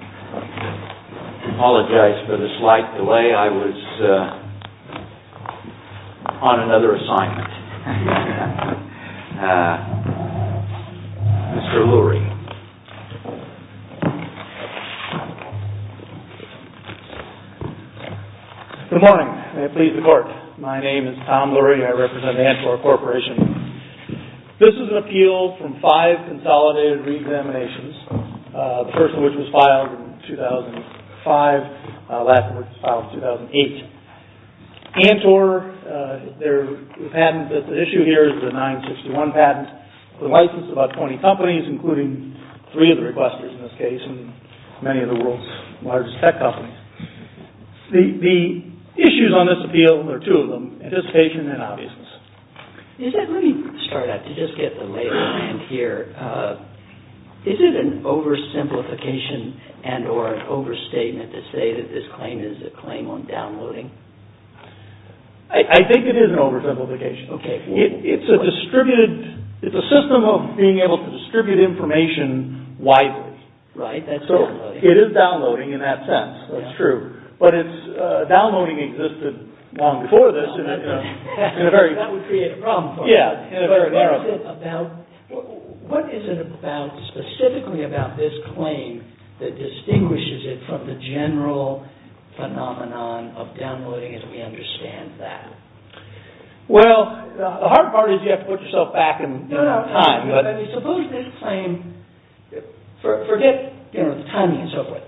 I apologize for the slight delay. I was on another assignment. Mr. Lurie. Good morning. May it please the Court. My name is Tom Lurie. I represent the Antwerp Corporation. This is an appeal from five consolidated re-examinations. The first of which was filed in 2005. The last one was filed in 2008. Antwerp, the patent that's at issue here is the 961 patent. It's been licensed by 20 companies, including three of the requesters in this case, and many of the world's largest tech companies. The issues on this appeal, there are two of them, anticipation and obviousness. Let me start out to just get the lay of the land here. Is it an oversimplification and or an overstatement to say that this claim is a claim on downloading? I think it is an oversimplification. It's a system of being able to distribute information wisely. Right, that's downloading. It is downloading in that sense. That's true. Downloading existed long before this. That would create a problem for us. What is it specifically about this claim that distinguishes it from the general phenomenon of downloading as we understand that? Well, the hard part is you have to put yourself back in time. Suppose this claim, forget the timing and so forth,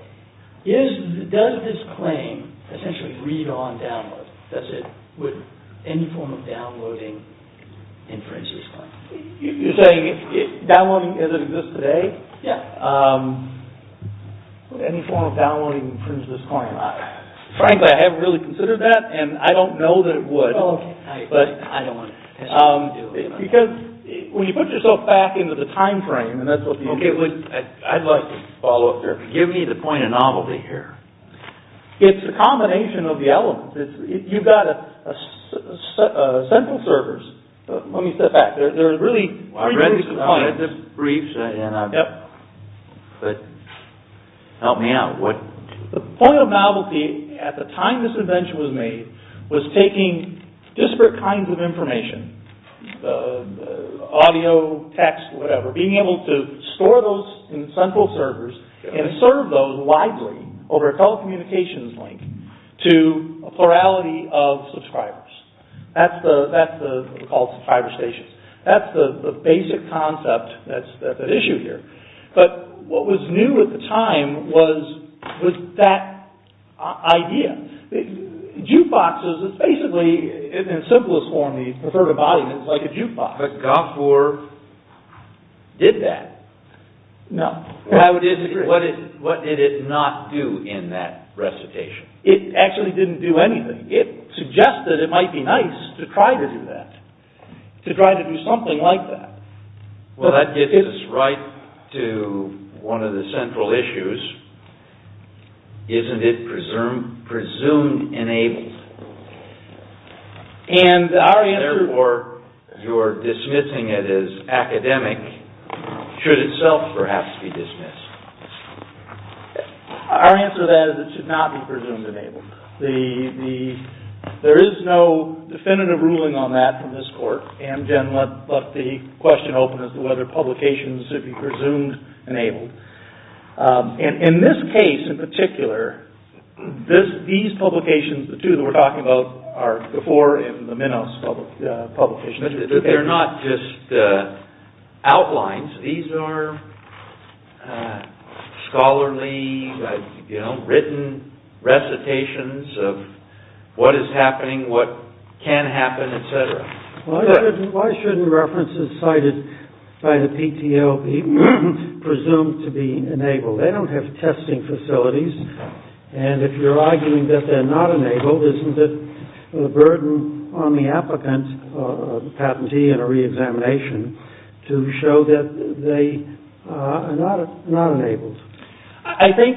does this claim essentially read on download? Would any form of downloading inference this claim? You're saying downloading as it exists today? Yeah. Would any form of downloading inference this claim? Frankly, I haven't really considered that and I don't know that it would. Oh, okay. I don't want to do it. Because when you put yourself back into the time frame and that's what you get with... I'd like to follow up there. Give me the point of novelty here. It's a combination of the elements. You've got central servers. Let me step back. There are really... I've read these briefs and... Yep. Help me out. The point of novelty at the time this invention was made was taking disparate kinds of information, audio, text, whatever, being able to store those in central servers and serve those widely over a telecommunications link to a plurality of subscribers. That's what we call subscriber stations. That's the basic concept that's at issue here. But what was new at the time was that idea. Jukeboxes is basically, in its simplest form, the preferred embodiment is like a jukebox. But Gopher did that. No. I would disagree. What did it not do in that recitation? It actually didn't do anything. It suggested it might be nice to try to do that, to try to do something like that. Well, that gets us right to one of the central issues. Isn't it presume-enabled? And our answer... Therefore, you're dismissing it as academic. Should itself perhaps be dismissed? Our answer to that is it should not be presume-enabled. There is no definitive ruling on that from this court. Amgen left the question open as to whether publications should be presume-enabled. In this case, in particular, these publications, the two that we're talking about, are before and the Minos publications. But they're not just outlines. These are scholarly, written recitations of what is happening, what can happen, etc. Why shouldn't references cited by the PTO be presumed to be enabled? They don't have testing facilities. And if you're arguing that they're not enabled, isn't it a burden on the applicant, the patentee in a re-examination, to show that they are not enabled? I think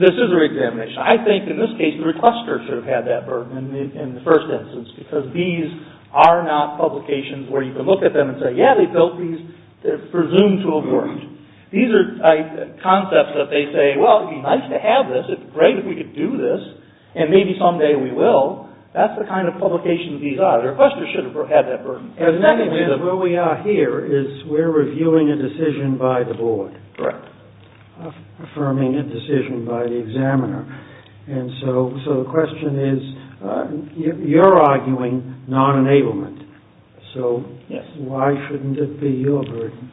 this is a re-examination. I think in this case the requester should have had that burden in the first instance because these are not publications where you can look at them and say, yeah, they built these, they're presumed to have worked. These are concepts that they say, well, it would be nice to have this, it would be great if we could do this, and maybe someday we will. That's the kind of publication these are. The requester should have had that burden. The next instance of where we are here is we're reviewing a decision by the board. Correct. Affirming a decision by the examiner. And so the question is, you're arguing non-enablement. Yes. So why shouldn't it be your burden?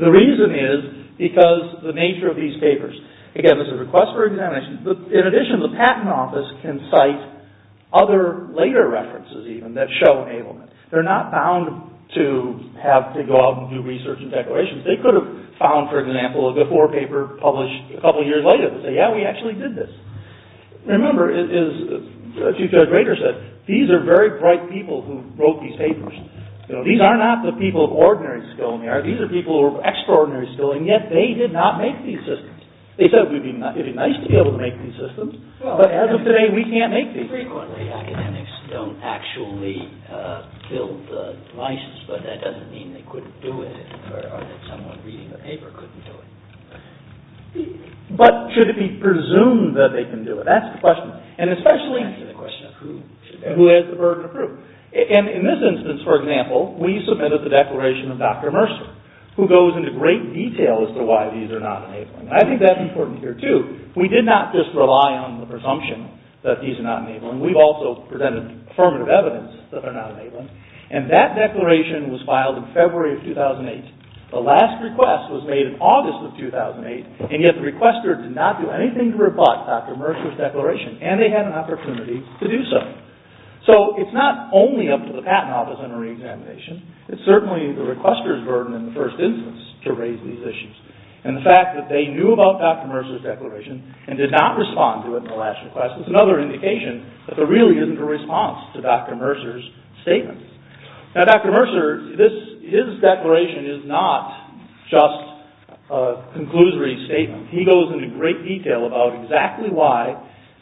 The reason is because the nature of these papers. Again, this is a request for examination. In addition, the patent office can cite other later references even that show enablement. They're not bound to have to go out and do research and declarations. They could have found, for example, a before paper published a couple years later and say, yeah, we actually did this. Remember, as Chief Judge Rader said, these are very bright people who wrote these papers. These are not the people of ordinary skill. These are people of extraordinary skill, and yet they did not make these systems. They said it would be nice to be able to make these systems, but as of today we can't make these systems. Frequently academics don't actually build the devices, but that doesn't mean they couldn't do it. Or that someone reading the paper couldn't do it. But should it be presumed that they can do it? That's the question. That's the question of who has the burden of proof. In this instance, for example, we submitted the declaration of Dr. Mercer, who goes into great detail as to why these are not enabling. I think that's important here, too. We did not just rely on the presumption that these are not enabling. We've also presented affirmative evidence that they're not enabling, and that declaration was filed in February of 2008. The last request was made in August of 2008, and yet the requester did not do anything to rebut Dr. Mercer's declaration, and they had an opportunity to do so. So it's not only up to the patent office under reexamination. It's certainly the requester's burden in the first instance to raise these issues. And the fact that they knew about Dr. Mercer's declaration and did not respond to it in the last request is another indication that there really isn't a response to Dr. Mercer's statement. Now, Dr. Mercer, his declaration is not just a conclusory statement. He goes into great detail about exactly why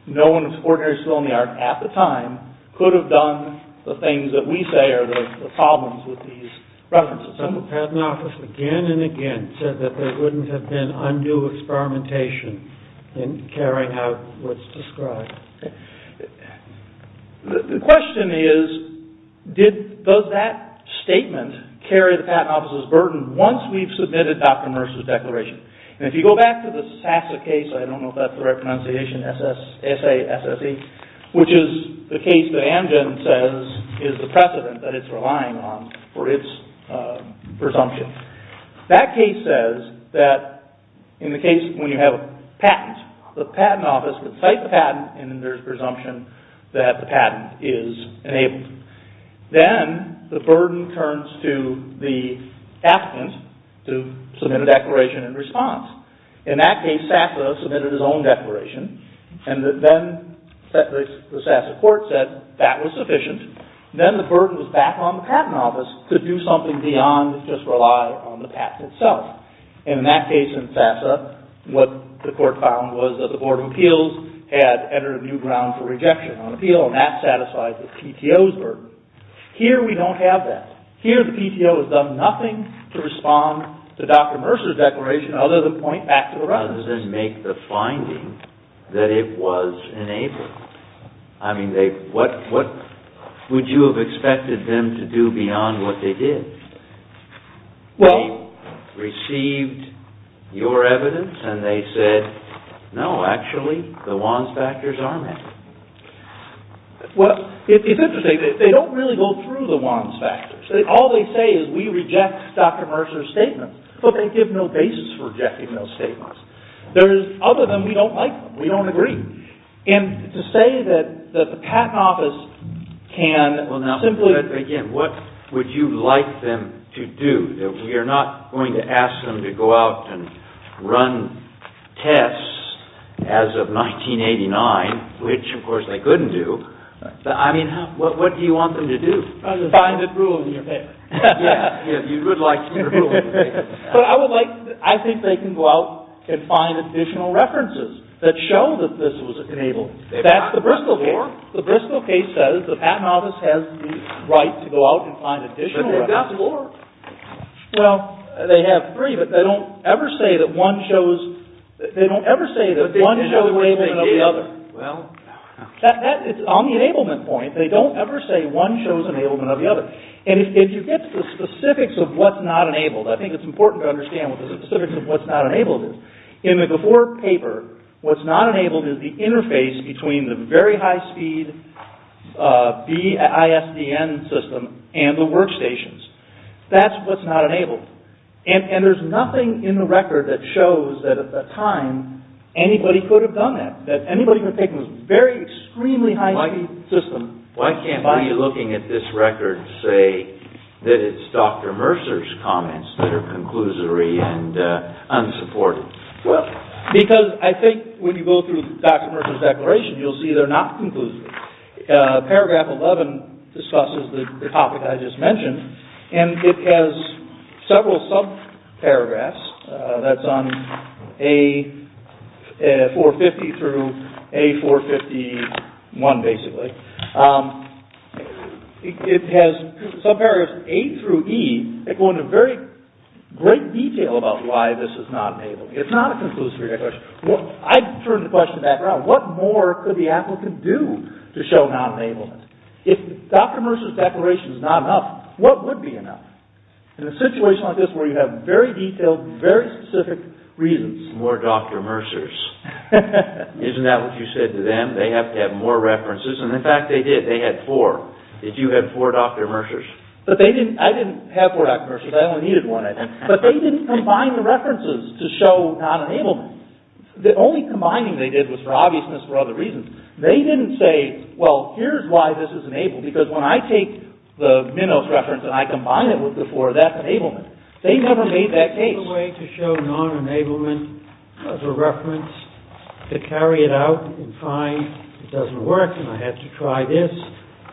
no one with an ordinary skill in the art at the time could have done the things that we say are the problems with these references. The patent office again and again said that there wouldn't have been undue experimentation in carrying out what's described. The question is, does that statement carry the patent office's burden once we've submitted Dr. Mercer's declaration? And if you go back to the SASA case, I don't know if that's the right pronunciation, S-A-S-S-E, which is the case that Amgen says is the precedent that it's relying on for its presumption. That case says that in the case when you have a patent, the patent office would cite the patent, and then there's presumption that the patent is enabled. Then the burden turns to the applicant to submit a declaration in response. In that case, SASA submitted its own declaration, and then the SASA court said that was sufficient. Then the burden was back on the patent office to do something beyond just rely on the patent itself. And in that case in SASA, what the court found was that the Board of Appeals had entered a new ground for rejection on appeal, and that satisfies the PTO's burden. Here, we don't have that. Here, the PTO has done nothing to respond to Dr. Mercer's declaration other than point back to the record. Other than make the finding that it was enabled. I mean, what would you have expected them to do beyond what they did? They received your evidence, and they said, no, actually, the WANs factors are met. Well, it's interesting. They don't really go through the WANs factors. All they say is, we reject Dr. Mercer's statement. But they give no basis for rejecting those statements. Other than we don't like them. We don't agree. And to say that the patent office can simply... What would you like them to do? We are not going to ask them to go out and run tests as of 1989, which, of course, they couldn't do. I mean, what do you want them to do? Find a rule in your paper. Yeah, you would like to see a rule in your paper. But I would like... I think they can go out and find additional references that show that this was enabled. That's the Bristol case. The Bristol case says the patent office has the right to go out and find additional references. But they've got four. Well, they have three, but they don't ever say that one shows... They don't ever say that one shows enablement of the other. Well... It's on the enablement point. They don't ever say one shows enablement of the other. And if you get to the specifics of what's not enabled, I think it's important to understand what the specifics of what's not enabled is. In the before paper, what's not enabled is the interface between the very high-speed BISDN system and the workstations. That's what's not enabled. And there's nothing in the record that shows that, at the time, anybody could have done that, that anybody could have taken this very extremely high-speed system... Well, because I think when you go through Dr. Mercer's declaration, you'll see they're not conclusive. Paragraph 11 discusses the topic I just mentioned, and it has several subparagraphs. That's on A450 through A451, basically. It has subparagraphs A through E that go into very great detail about why this is not enabled. It's not a conclusive. I turn the question back around. What more could the applicant do to show non-enablement? If Dr. Mercer's declaration is not enough, what would be enough? In a situation like this where you have very detailed, very specific reasons. More Dr. Mercer's. Isn't that what you said to them? They have to have more references, and in fact, they did. They had four. Did you have four Dr. Mercer's? But they didn't... I didn't have four Dr. Mercer's. I only needed one, I think. But they didn't combine the references to show non-enablement. The only combining they did was for obviousness, for other reasons. They didn't say, well, here's why this is enabled, because when I take the Minos reference and I combine it with the four, that's enablement. They never made that case. There's no way to show non-enablement of a reference. To carry it out and find it doesn't work, and I had to try this,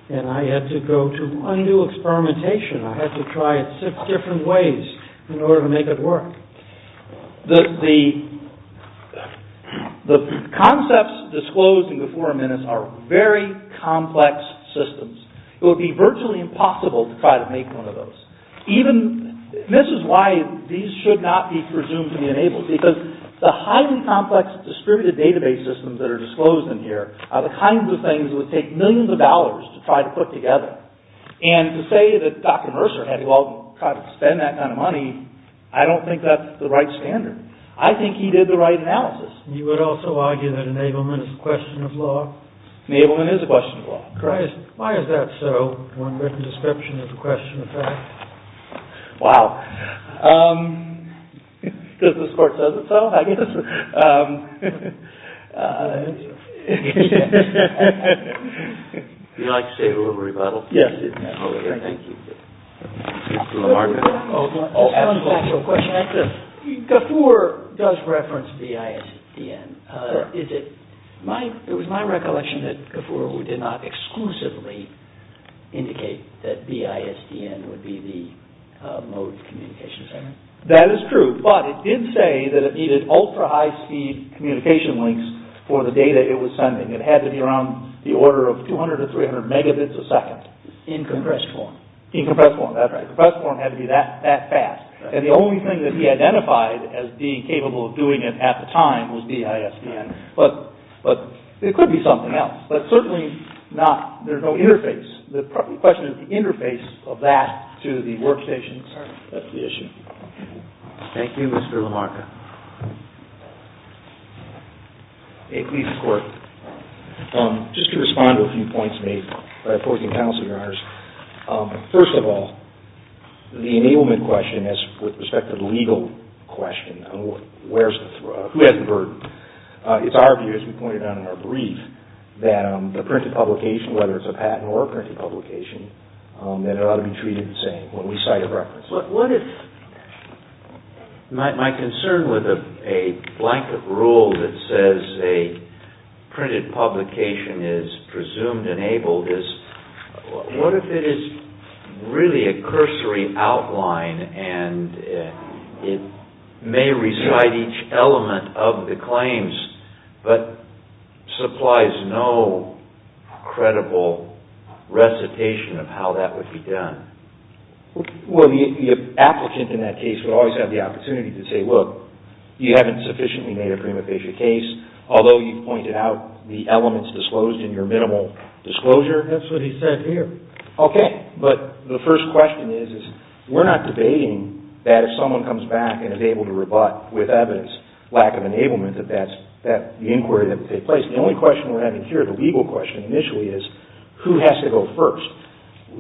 and I had to go to undo experimentation. I had to try it six different ways in order to make it work. The concepts disclosed in the forum minutes are very complex systems. It would be virtually impossible to try to make one of those. This is why these should not be presumed to be enabled, because the highly complex distributed database systems that are disclosed in here are the kinds of things that would take millions of dollars to try to put together. And to say that Dr. Mercer had to spend that kind of money, I don't think that's the right standard. I think he did the right analysis. You would also argue that enablement is a question of law? Enablement is a question of law. Why is that so, one written description of the question of fact? Wow. Because this Court says it so, I guess. I think so. Would you like to say a little rebuttal? Yes. Thank you. GAFUR does reference BISDN. It was my recollection that GAFUR did not exclusively indicate that BISDN would be the mode of communication. That is true. But it did say that it needed ultra-high speed communication links for the data it was sending. It had to be around the order of 200 to 300 megabits a second. In compressed form. In compressed form. That's right. Compressed form had to be that fast. And the only thing that he identified as being capable of doing it at the time was BISDN. But it could be something else. But certainly not, there's no interface. The question is the interface of that to the workstations. That's the issue. Thank you, Mr. LaMarca. Please, the Court. Just to respond to a few points made by opposing counsel, Your Honors. First of all, the enablement question, with respect to the legal question, who has the burden? It's our view, as we pointed out in our brief, that the printed publication, whether it's a patent or a printed publication, that it ought to be treated the same when we cite a reference. What if my concern with a blanket rule that says a printed publication is presumed enabled is, what if it is really a cursory outline and it may recite each element of the claims but supplies no credible recitation of how that would be done? Well, the applicant in that case would always have the opportunity to say, look, you haven't sufficiently made a prima facie case, although you've pointed out the elements disclosed in your minimal disclosure. That's what he said here. Okay. But the first question is, we're not debating that if someone comes back and is able to rebut with evidence, lack of enablement, that that's the inquiry that would take place. The only question we're having here, the legal question initially, is who has to go first?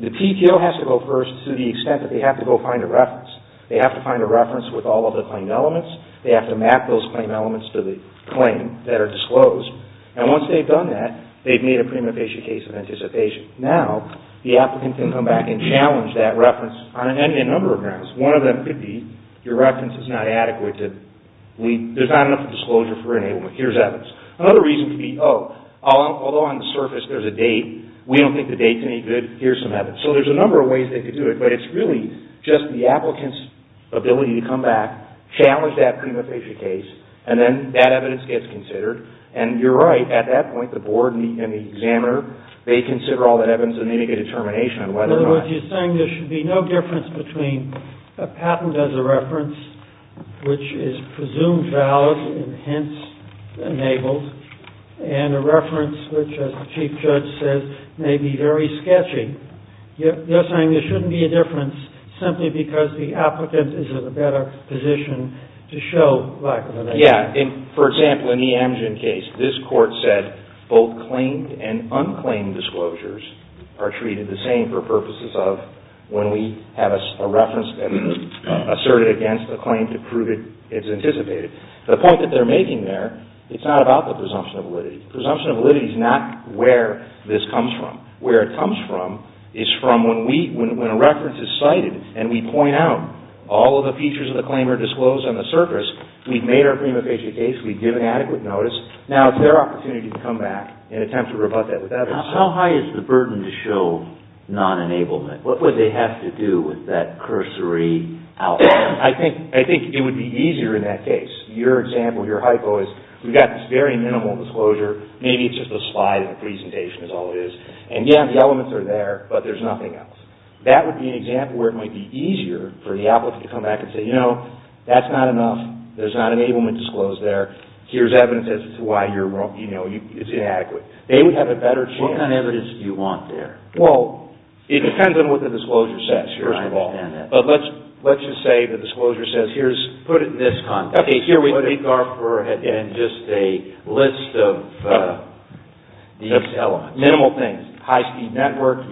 The PTO has to go first to the extent that they have to go find a reference. They have to find a reference with all of the claim elements. They have to map those claim elements to the claim that are disclosed. And once they've done that, they've made a prima facie case of anticipation. Now, the applicant can come back and challenge that reference on a number of grounds. One of them could be, your reference is not adequate. There's not enough disclosure for enablement. Here's evidence. Another reason could be, oh, although on the surface there's a date, we don't think the here's some evidence. So there's a number of ways they could do it, but it's really just the applicant's ability to come back, challenge that prima facie case, and then that evidence gets considered. And you're right. At that point, the board and the examiner, they consider all that evidence and they make a determination on whether or not... In other words, you're saying there should be no difference between a patent as a reference, which is presumed valid and hence enabled, and a reference which, as the Chief Judge says, may be very sketchy. You're saying there shouldn't be a difference simply because the applicant is in a better position to show lack of validity. Yeah. For example, in the Amgen case, this court said both claimed and unclaimed disclosures are treated the same for purposes of when we have a reference asserted against a claim to prove it's anticipated. The point that they're making there, it's not about the presumption of validity. Presumption of validity is not where this comes from. Where it comes from is from when a reference is cited and we point out all of the features of the claim are disclosed on the surface, we've made our prima facie case, we've given adequate notice, now it's their opportunity to come back and attempt to rebut that with evidence. How high is the burden to show non-enablement? What would they have to do with that cursory outcome? I think it would be easier in that case. Your example, your hypo, is we've got this very minimal disclosure, maybe it's just a slide in the presentation is all it is, and yeah, the elements are there, but there's nothing else. That would be an example where it might be easier for the applicant to come back and say, you know, that's not enough, there's not enablement disclosed there, here's evidence as to why it's inadequate. They would have a better chance. What kind of evidence do you want there? Well, it depends on what the disclosure says, first of all. I understand that. But let's just say the disclosure says, put it in this context. Okay, here we put in just a list of these elements. Minimal things. High-speed network,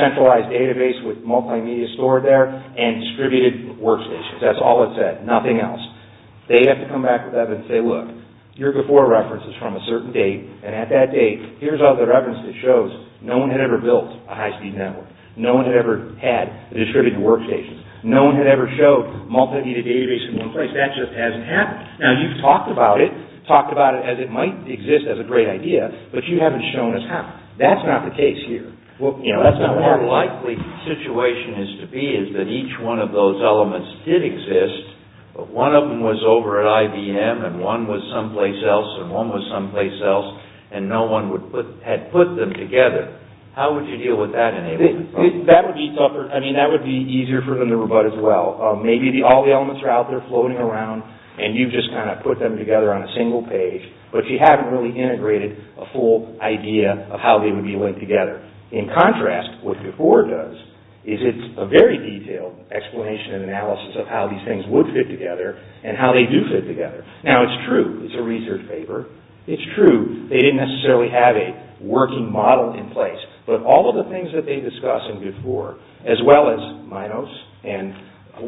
centralized database with multimedia stored there, and distributed workstations. That's all it said, nothing else. They have to come back with evidence and say, look, you're before references from a certain date, and at that date, here's all the reference that shows no one had ever built a high-speed network. No one had ever had distributed workstations. No one had ever showed multimedia database in one place. That just hasn't happened. Now, you've talked about it, talked about it as it might exist as a great idea, but you haven't shown us how. That's not the case here. You know, that's not what our likely situation is to be, is that each one of those elements did exist, but one of them was over at IBM, and one was someplace else, and one was someplace else, and no one had put them together. How would you deal with that enablement problem? That would be tougher. I mean, that would be easier for them to rebut as well. Maybe all the elements are out there floating around, and you've just kind of put them together on a single page, but you haven't really integrated a full idea of how they would be linked together. In contrast, what VIFOR does is it's a very detailed explanation and analysis of how these things would fit together and how they do fit together. Now, it's true. It's a research paper. It's true. They didn't necessarily have a working model in place, but all of the things that they discuss in VIFOR, as well as Minos and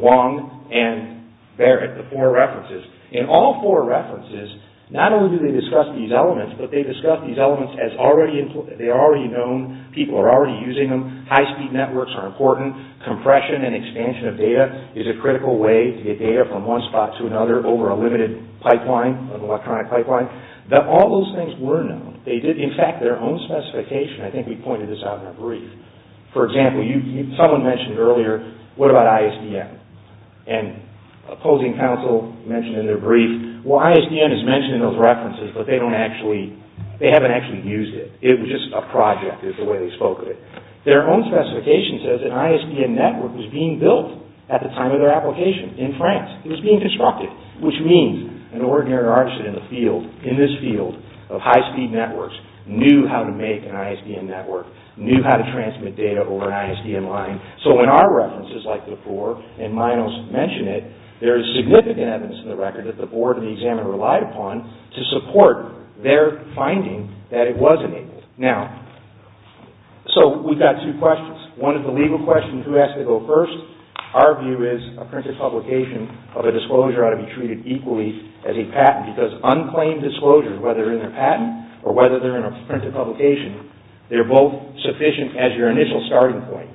Wong and Barrett, the four references, in all four references, not only do they discuss these elements, but they discuss these elements as they are already known, people are already using them, high-speed networks are important, compression and expansion of data is a critical way to get data from one spot to another over a limited pipeline, an electronic pipeline. All those things were known. In fact, their own specification, I think we pointed this out in our brief. For example, someone mentioned earlier, what about ISDN? And opposing counsel mentioned in their brief, well, ISDN is mentioned in those references, but they haven't actually used it. It was just a project is the way they spoke of it. Their own specification says an ISDN network was being built at the time of their application in France. It was being constructed, which means an ordinary artist in this field of high-speed networks knew how to make an ISDN network, knew how to transmit data over an ISDN line. So in our references, like before, and Minos mentioned it, there is significant evidence in the record that the board and the examiner relied upon to support their finding that it was enabled. Now, so we've got two questions. One is the legal question, who has to go first? Our view is a printed publication of a disclosure ought to be treated equally as a patent because unclaimed disclosures, whether they're in a patent or whether they're in a printed publication, they're both sufficient as your initial starting point.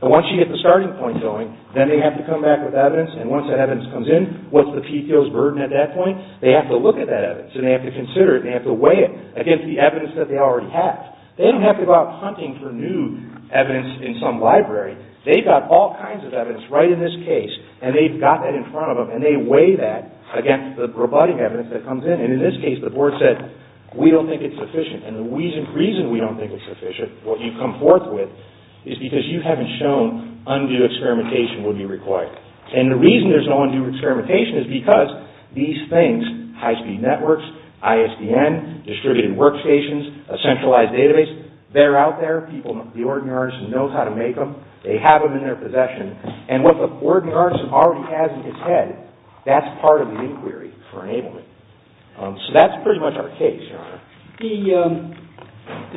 But once you get the starting point going, then they have to come back with evidence and once that evidence comes in, what's the PTO's burden at that point? They have to look at that evidence and they have to consider it and they have to weigh it against the evidence that they already have. They don't have to go out hunting for new evidence in some library. They've got all kinds of evidence right in this case and they've got that in front of And they weigh that against the rebutting evidence that comes in. And in this case, the board said, we don't think it's sufficient. And the reason we don't think it's sufficient, what you've come forth with, is because you haven't shown undue experimentation will be required. And the reason there's no undue experimentation is because these things, high-speed networks, ISDN, distributed workstations, a centralized database, they're out there. People, the ordinary artist knows how to make them. They have them in their possession. And what the ordinary artist already has in his head, that's part of the inquiry for enablement. So that's pretty much our case, Your Honor. The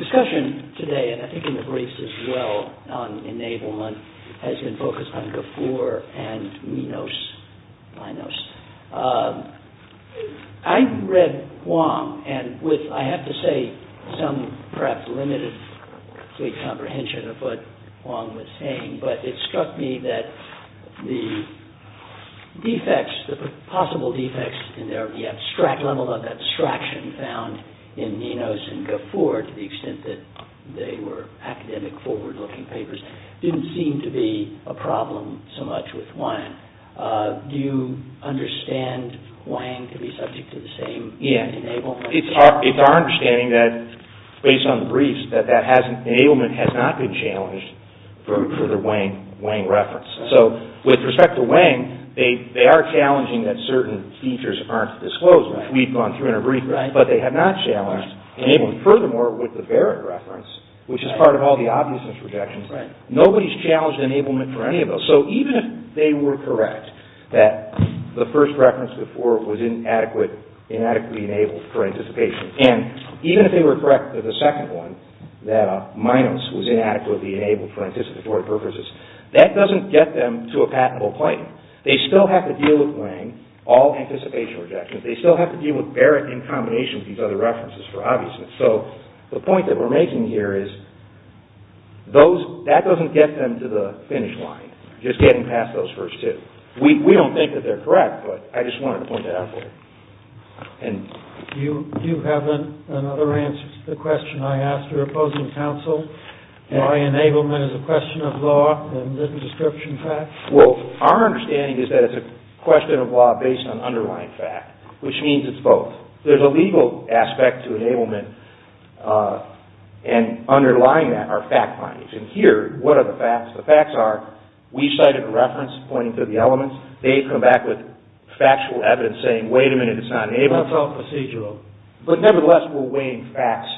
discussion today, and I think in the briefs as well on enablement, has been focused on Gafoor and Minos. I read Wong and with, I have to say, some perhaps limited comprehension of what Wong was saying, but it struck me that the defects, the possible defects in the abstract level of abstraction found in Minos and Gafoor, to the extent that they were academic forward-looking papers, didn't seem to be a problem so much with Wang. Do you understand Wang to be subject to the same enablement? It's our understanding that, based on the briefs, that enablement has not been challenged for the Wang reference. So, with respect to Wang, they are challenging that certain features aren't disclosed, which we've gone through in a brief, but they have not challenged enablement. Furthermore, with the Varick reference, which is part of all the obviousness projections, nobody's challenged enablement for any of those. So even if they were correct that the first reference before was inadequately enabled for anticipation, and even if they were correct for the second one, that Minos was inadequately enabled for anticipatory purposes, that doesn't get them to a patentable claim. They still have to deal with Wang, all anticipation rejections, they still have to deal with Varick in combination with these other references for obviousness. So, the point that we're making here is, that doesn't get them to the finish line, just getting past those first two. We don't think that they're correct, but I just wanted to point that out for you. You have another answer to the question I asked, or opposing counsel. Why enablement is a question of law, and isn't description fact? Well, our understanding is that it's a question of law based on underlying fact, which means it's both. There's a legal aspect to enablement, and underlying that are fact findings. And here, what are the facts? The facts are, we cited a reference pointing to the elements. They come back with factual evidence saying, wait a minute, it's not enablement. It's all procedural. But nevertheless, we're weighing facts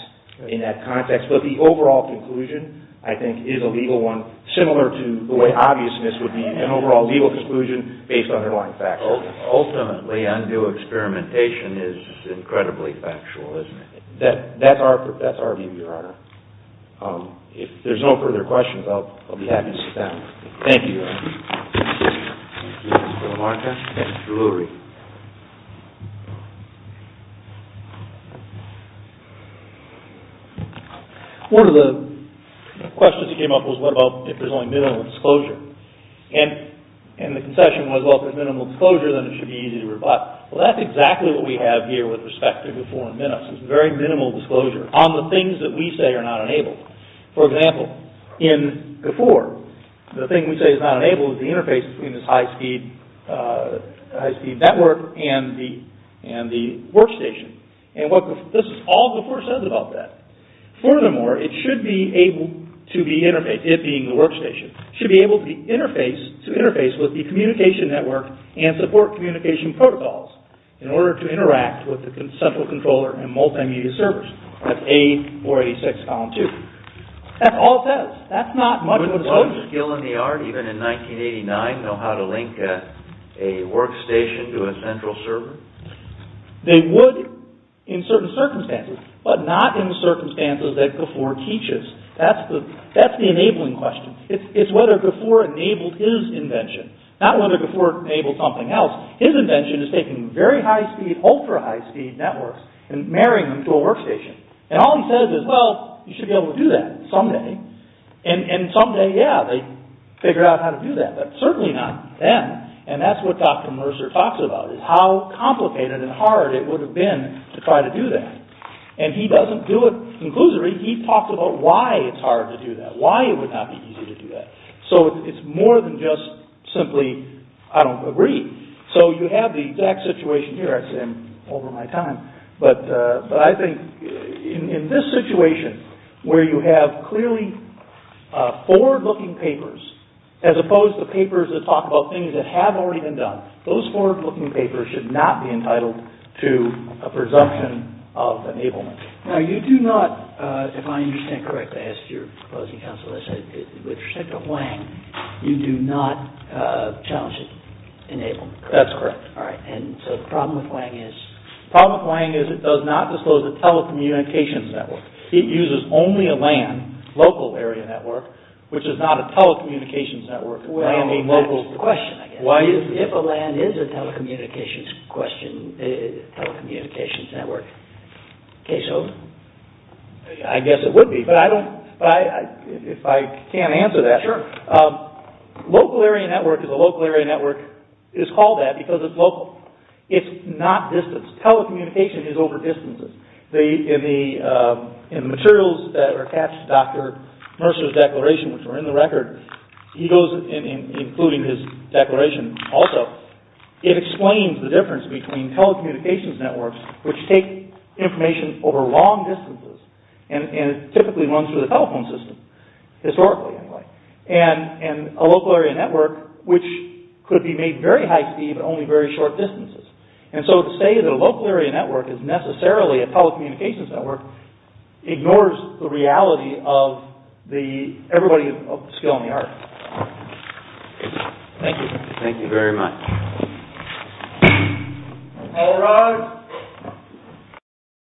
in that context. But the overall conclusion, I think, is a legal one, similar to the way obviousness would be an overall legal conclusion based on underlying facts. Ultimately, undue experimentation is incredibly factual, isn't it? That's our view, Your Honor. If there's no further questions, I'll be happy to sit down. Thank you. Thank you, Your Honor. Thank you, Mr. Lamarca, and Mr. Lurie. One of the questions that came up was, what about if there's only minimal disclosure? And the concession was, well, if there's minimal disclosure, then it should be easy to rebut. Well, that's exactly what we have here with respect to GIFOR and MINIS. It's very minimal disclosure on the things that we say are not enabled. For example, in GIFOR, the thing we say is not enabled is the interface between this high-speed network and the workstation. And this is all GIFOR says about that. Furthermore, it should be able to be interfaced, it being the workstation, should be able to interface with the communication network and support communication protocols in order to That's all it says. That's not much of a disclosure. Would one skill in the art, even in 1989, know how to link a workstation to a central server? They would in certain circumstances, but not in the circumstances that GIFOR teaches. That's the enabling question. It's whether GIFOR enabled his invention, not whether GIFOR enabled something else. His invention is taking very high-speed, ultra-high-speed networks and marrying them to a workstation. And all he says is, well, you should be able to do that someday. And someday, yeah, they figure out how to do that, but certainly not then. And that's what Dr. Mercer talks about, is how complicated and hard it would have been to try to do that. And he doesn't do it conclusively. He talks about why it's hard to do that, why it would not be easy to do that. So it's more than just simply, I don't agree. So you have the exact situation here. But I think in this situation, where you have clearly forward-looking papers, as opposed to papers that talk about things that have already been done, those forward-looking papers should not be entitled to a presumption of enablement. Now, you do not, if I understand correctly, I asked your proposing counsel, with respect to Hwang, you do not challenge his enablement. That's correct. All right, and so the problem with Hwang is? The problem with Hwang is it does not disclose a telecommunications network. It uses only a LAN, local area network, which is not a telecommunications network. Well, that's the question, I guess. Why? If a LAN is a telecommunications question, telecommunications network, case open? I guess it would be, but I don't, if I can't answer that. Sure. Local area network is a local area network. It's called that because it's local. It's not distance. Telecommunication is over distances. In the materials that are attached to Dr. Mercer's declaration, which were in the record, he goes, including his declaration also, it explains the difference between telecommunications networks, which take information over long distances, and typically runs through the telephone system, historically, anyway. And a local area network, which could be made very high speed, but only very short distances. And so to say that a local area network is necessarily a telecommunications network ignores the reality of everybody's skill in the art. Thank you. Thank you very much. All rise.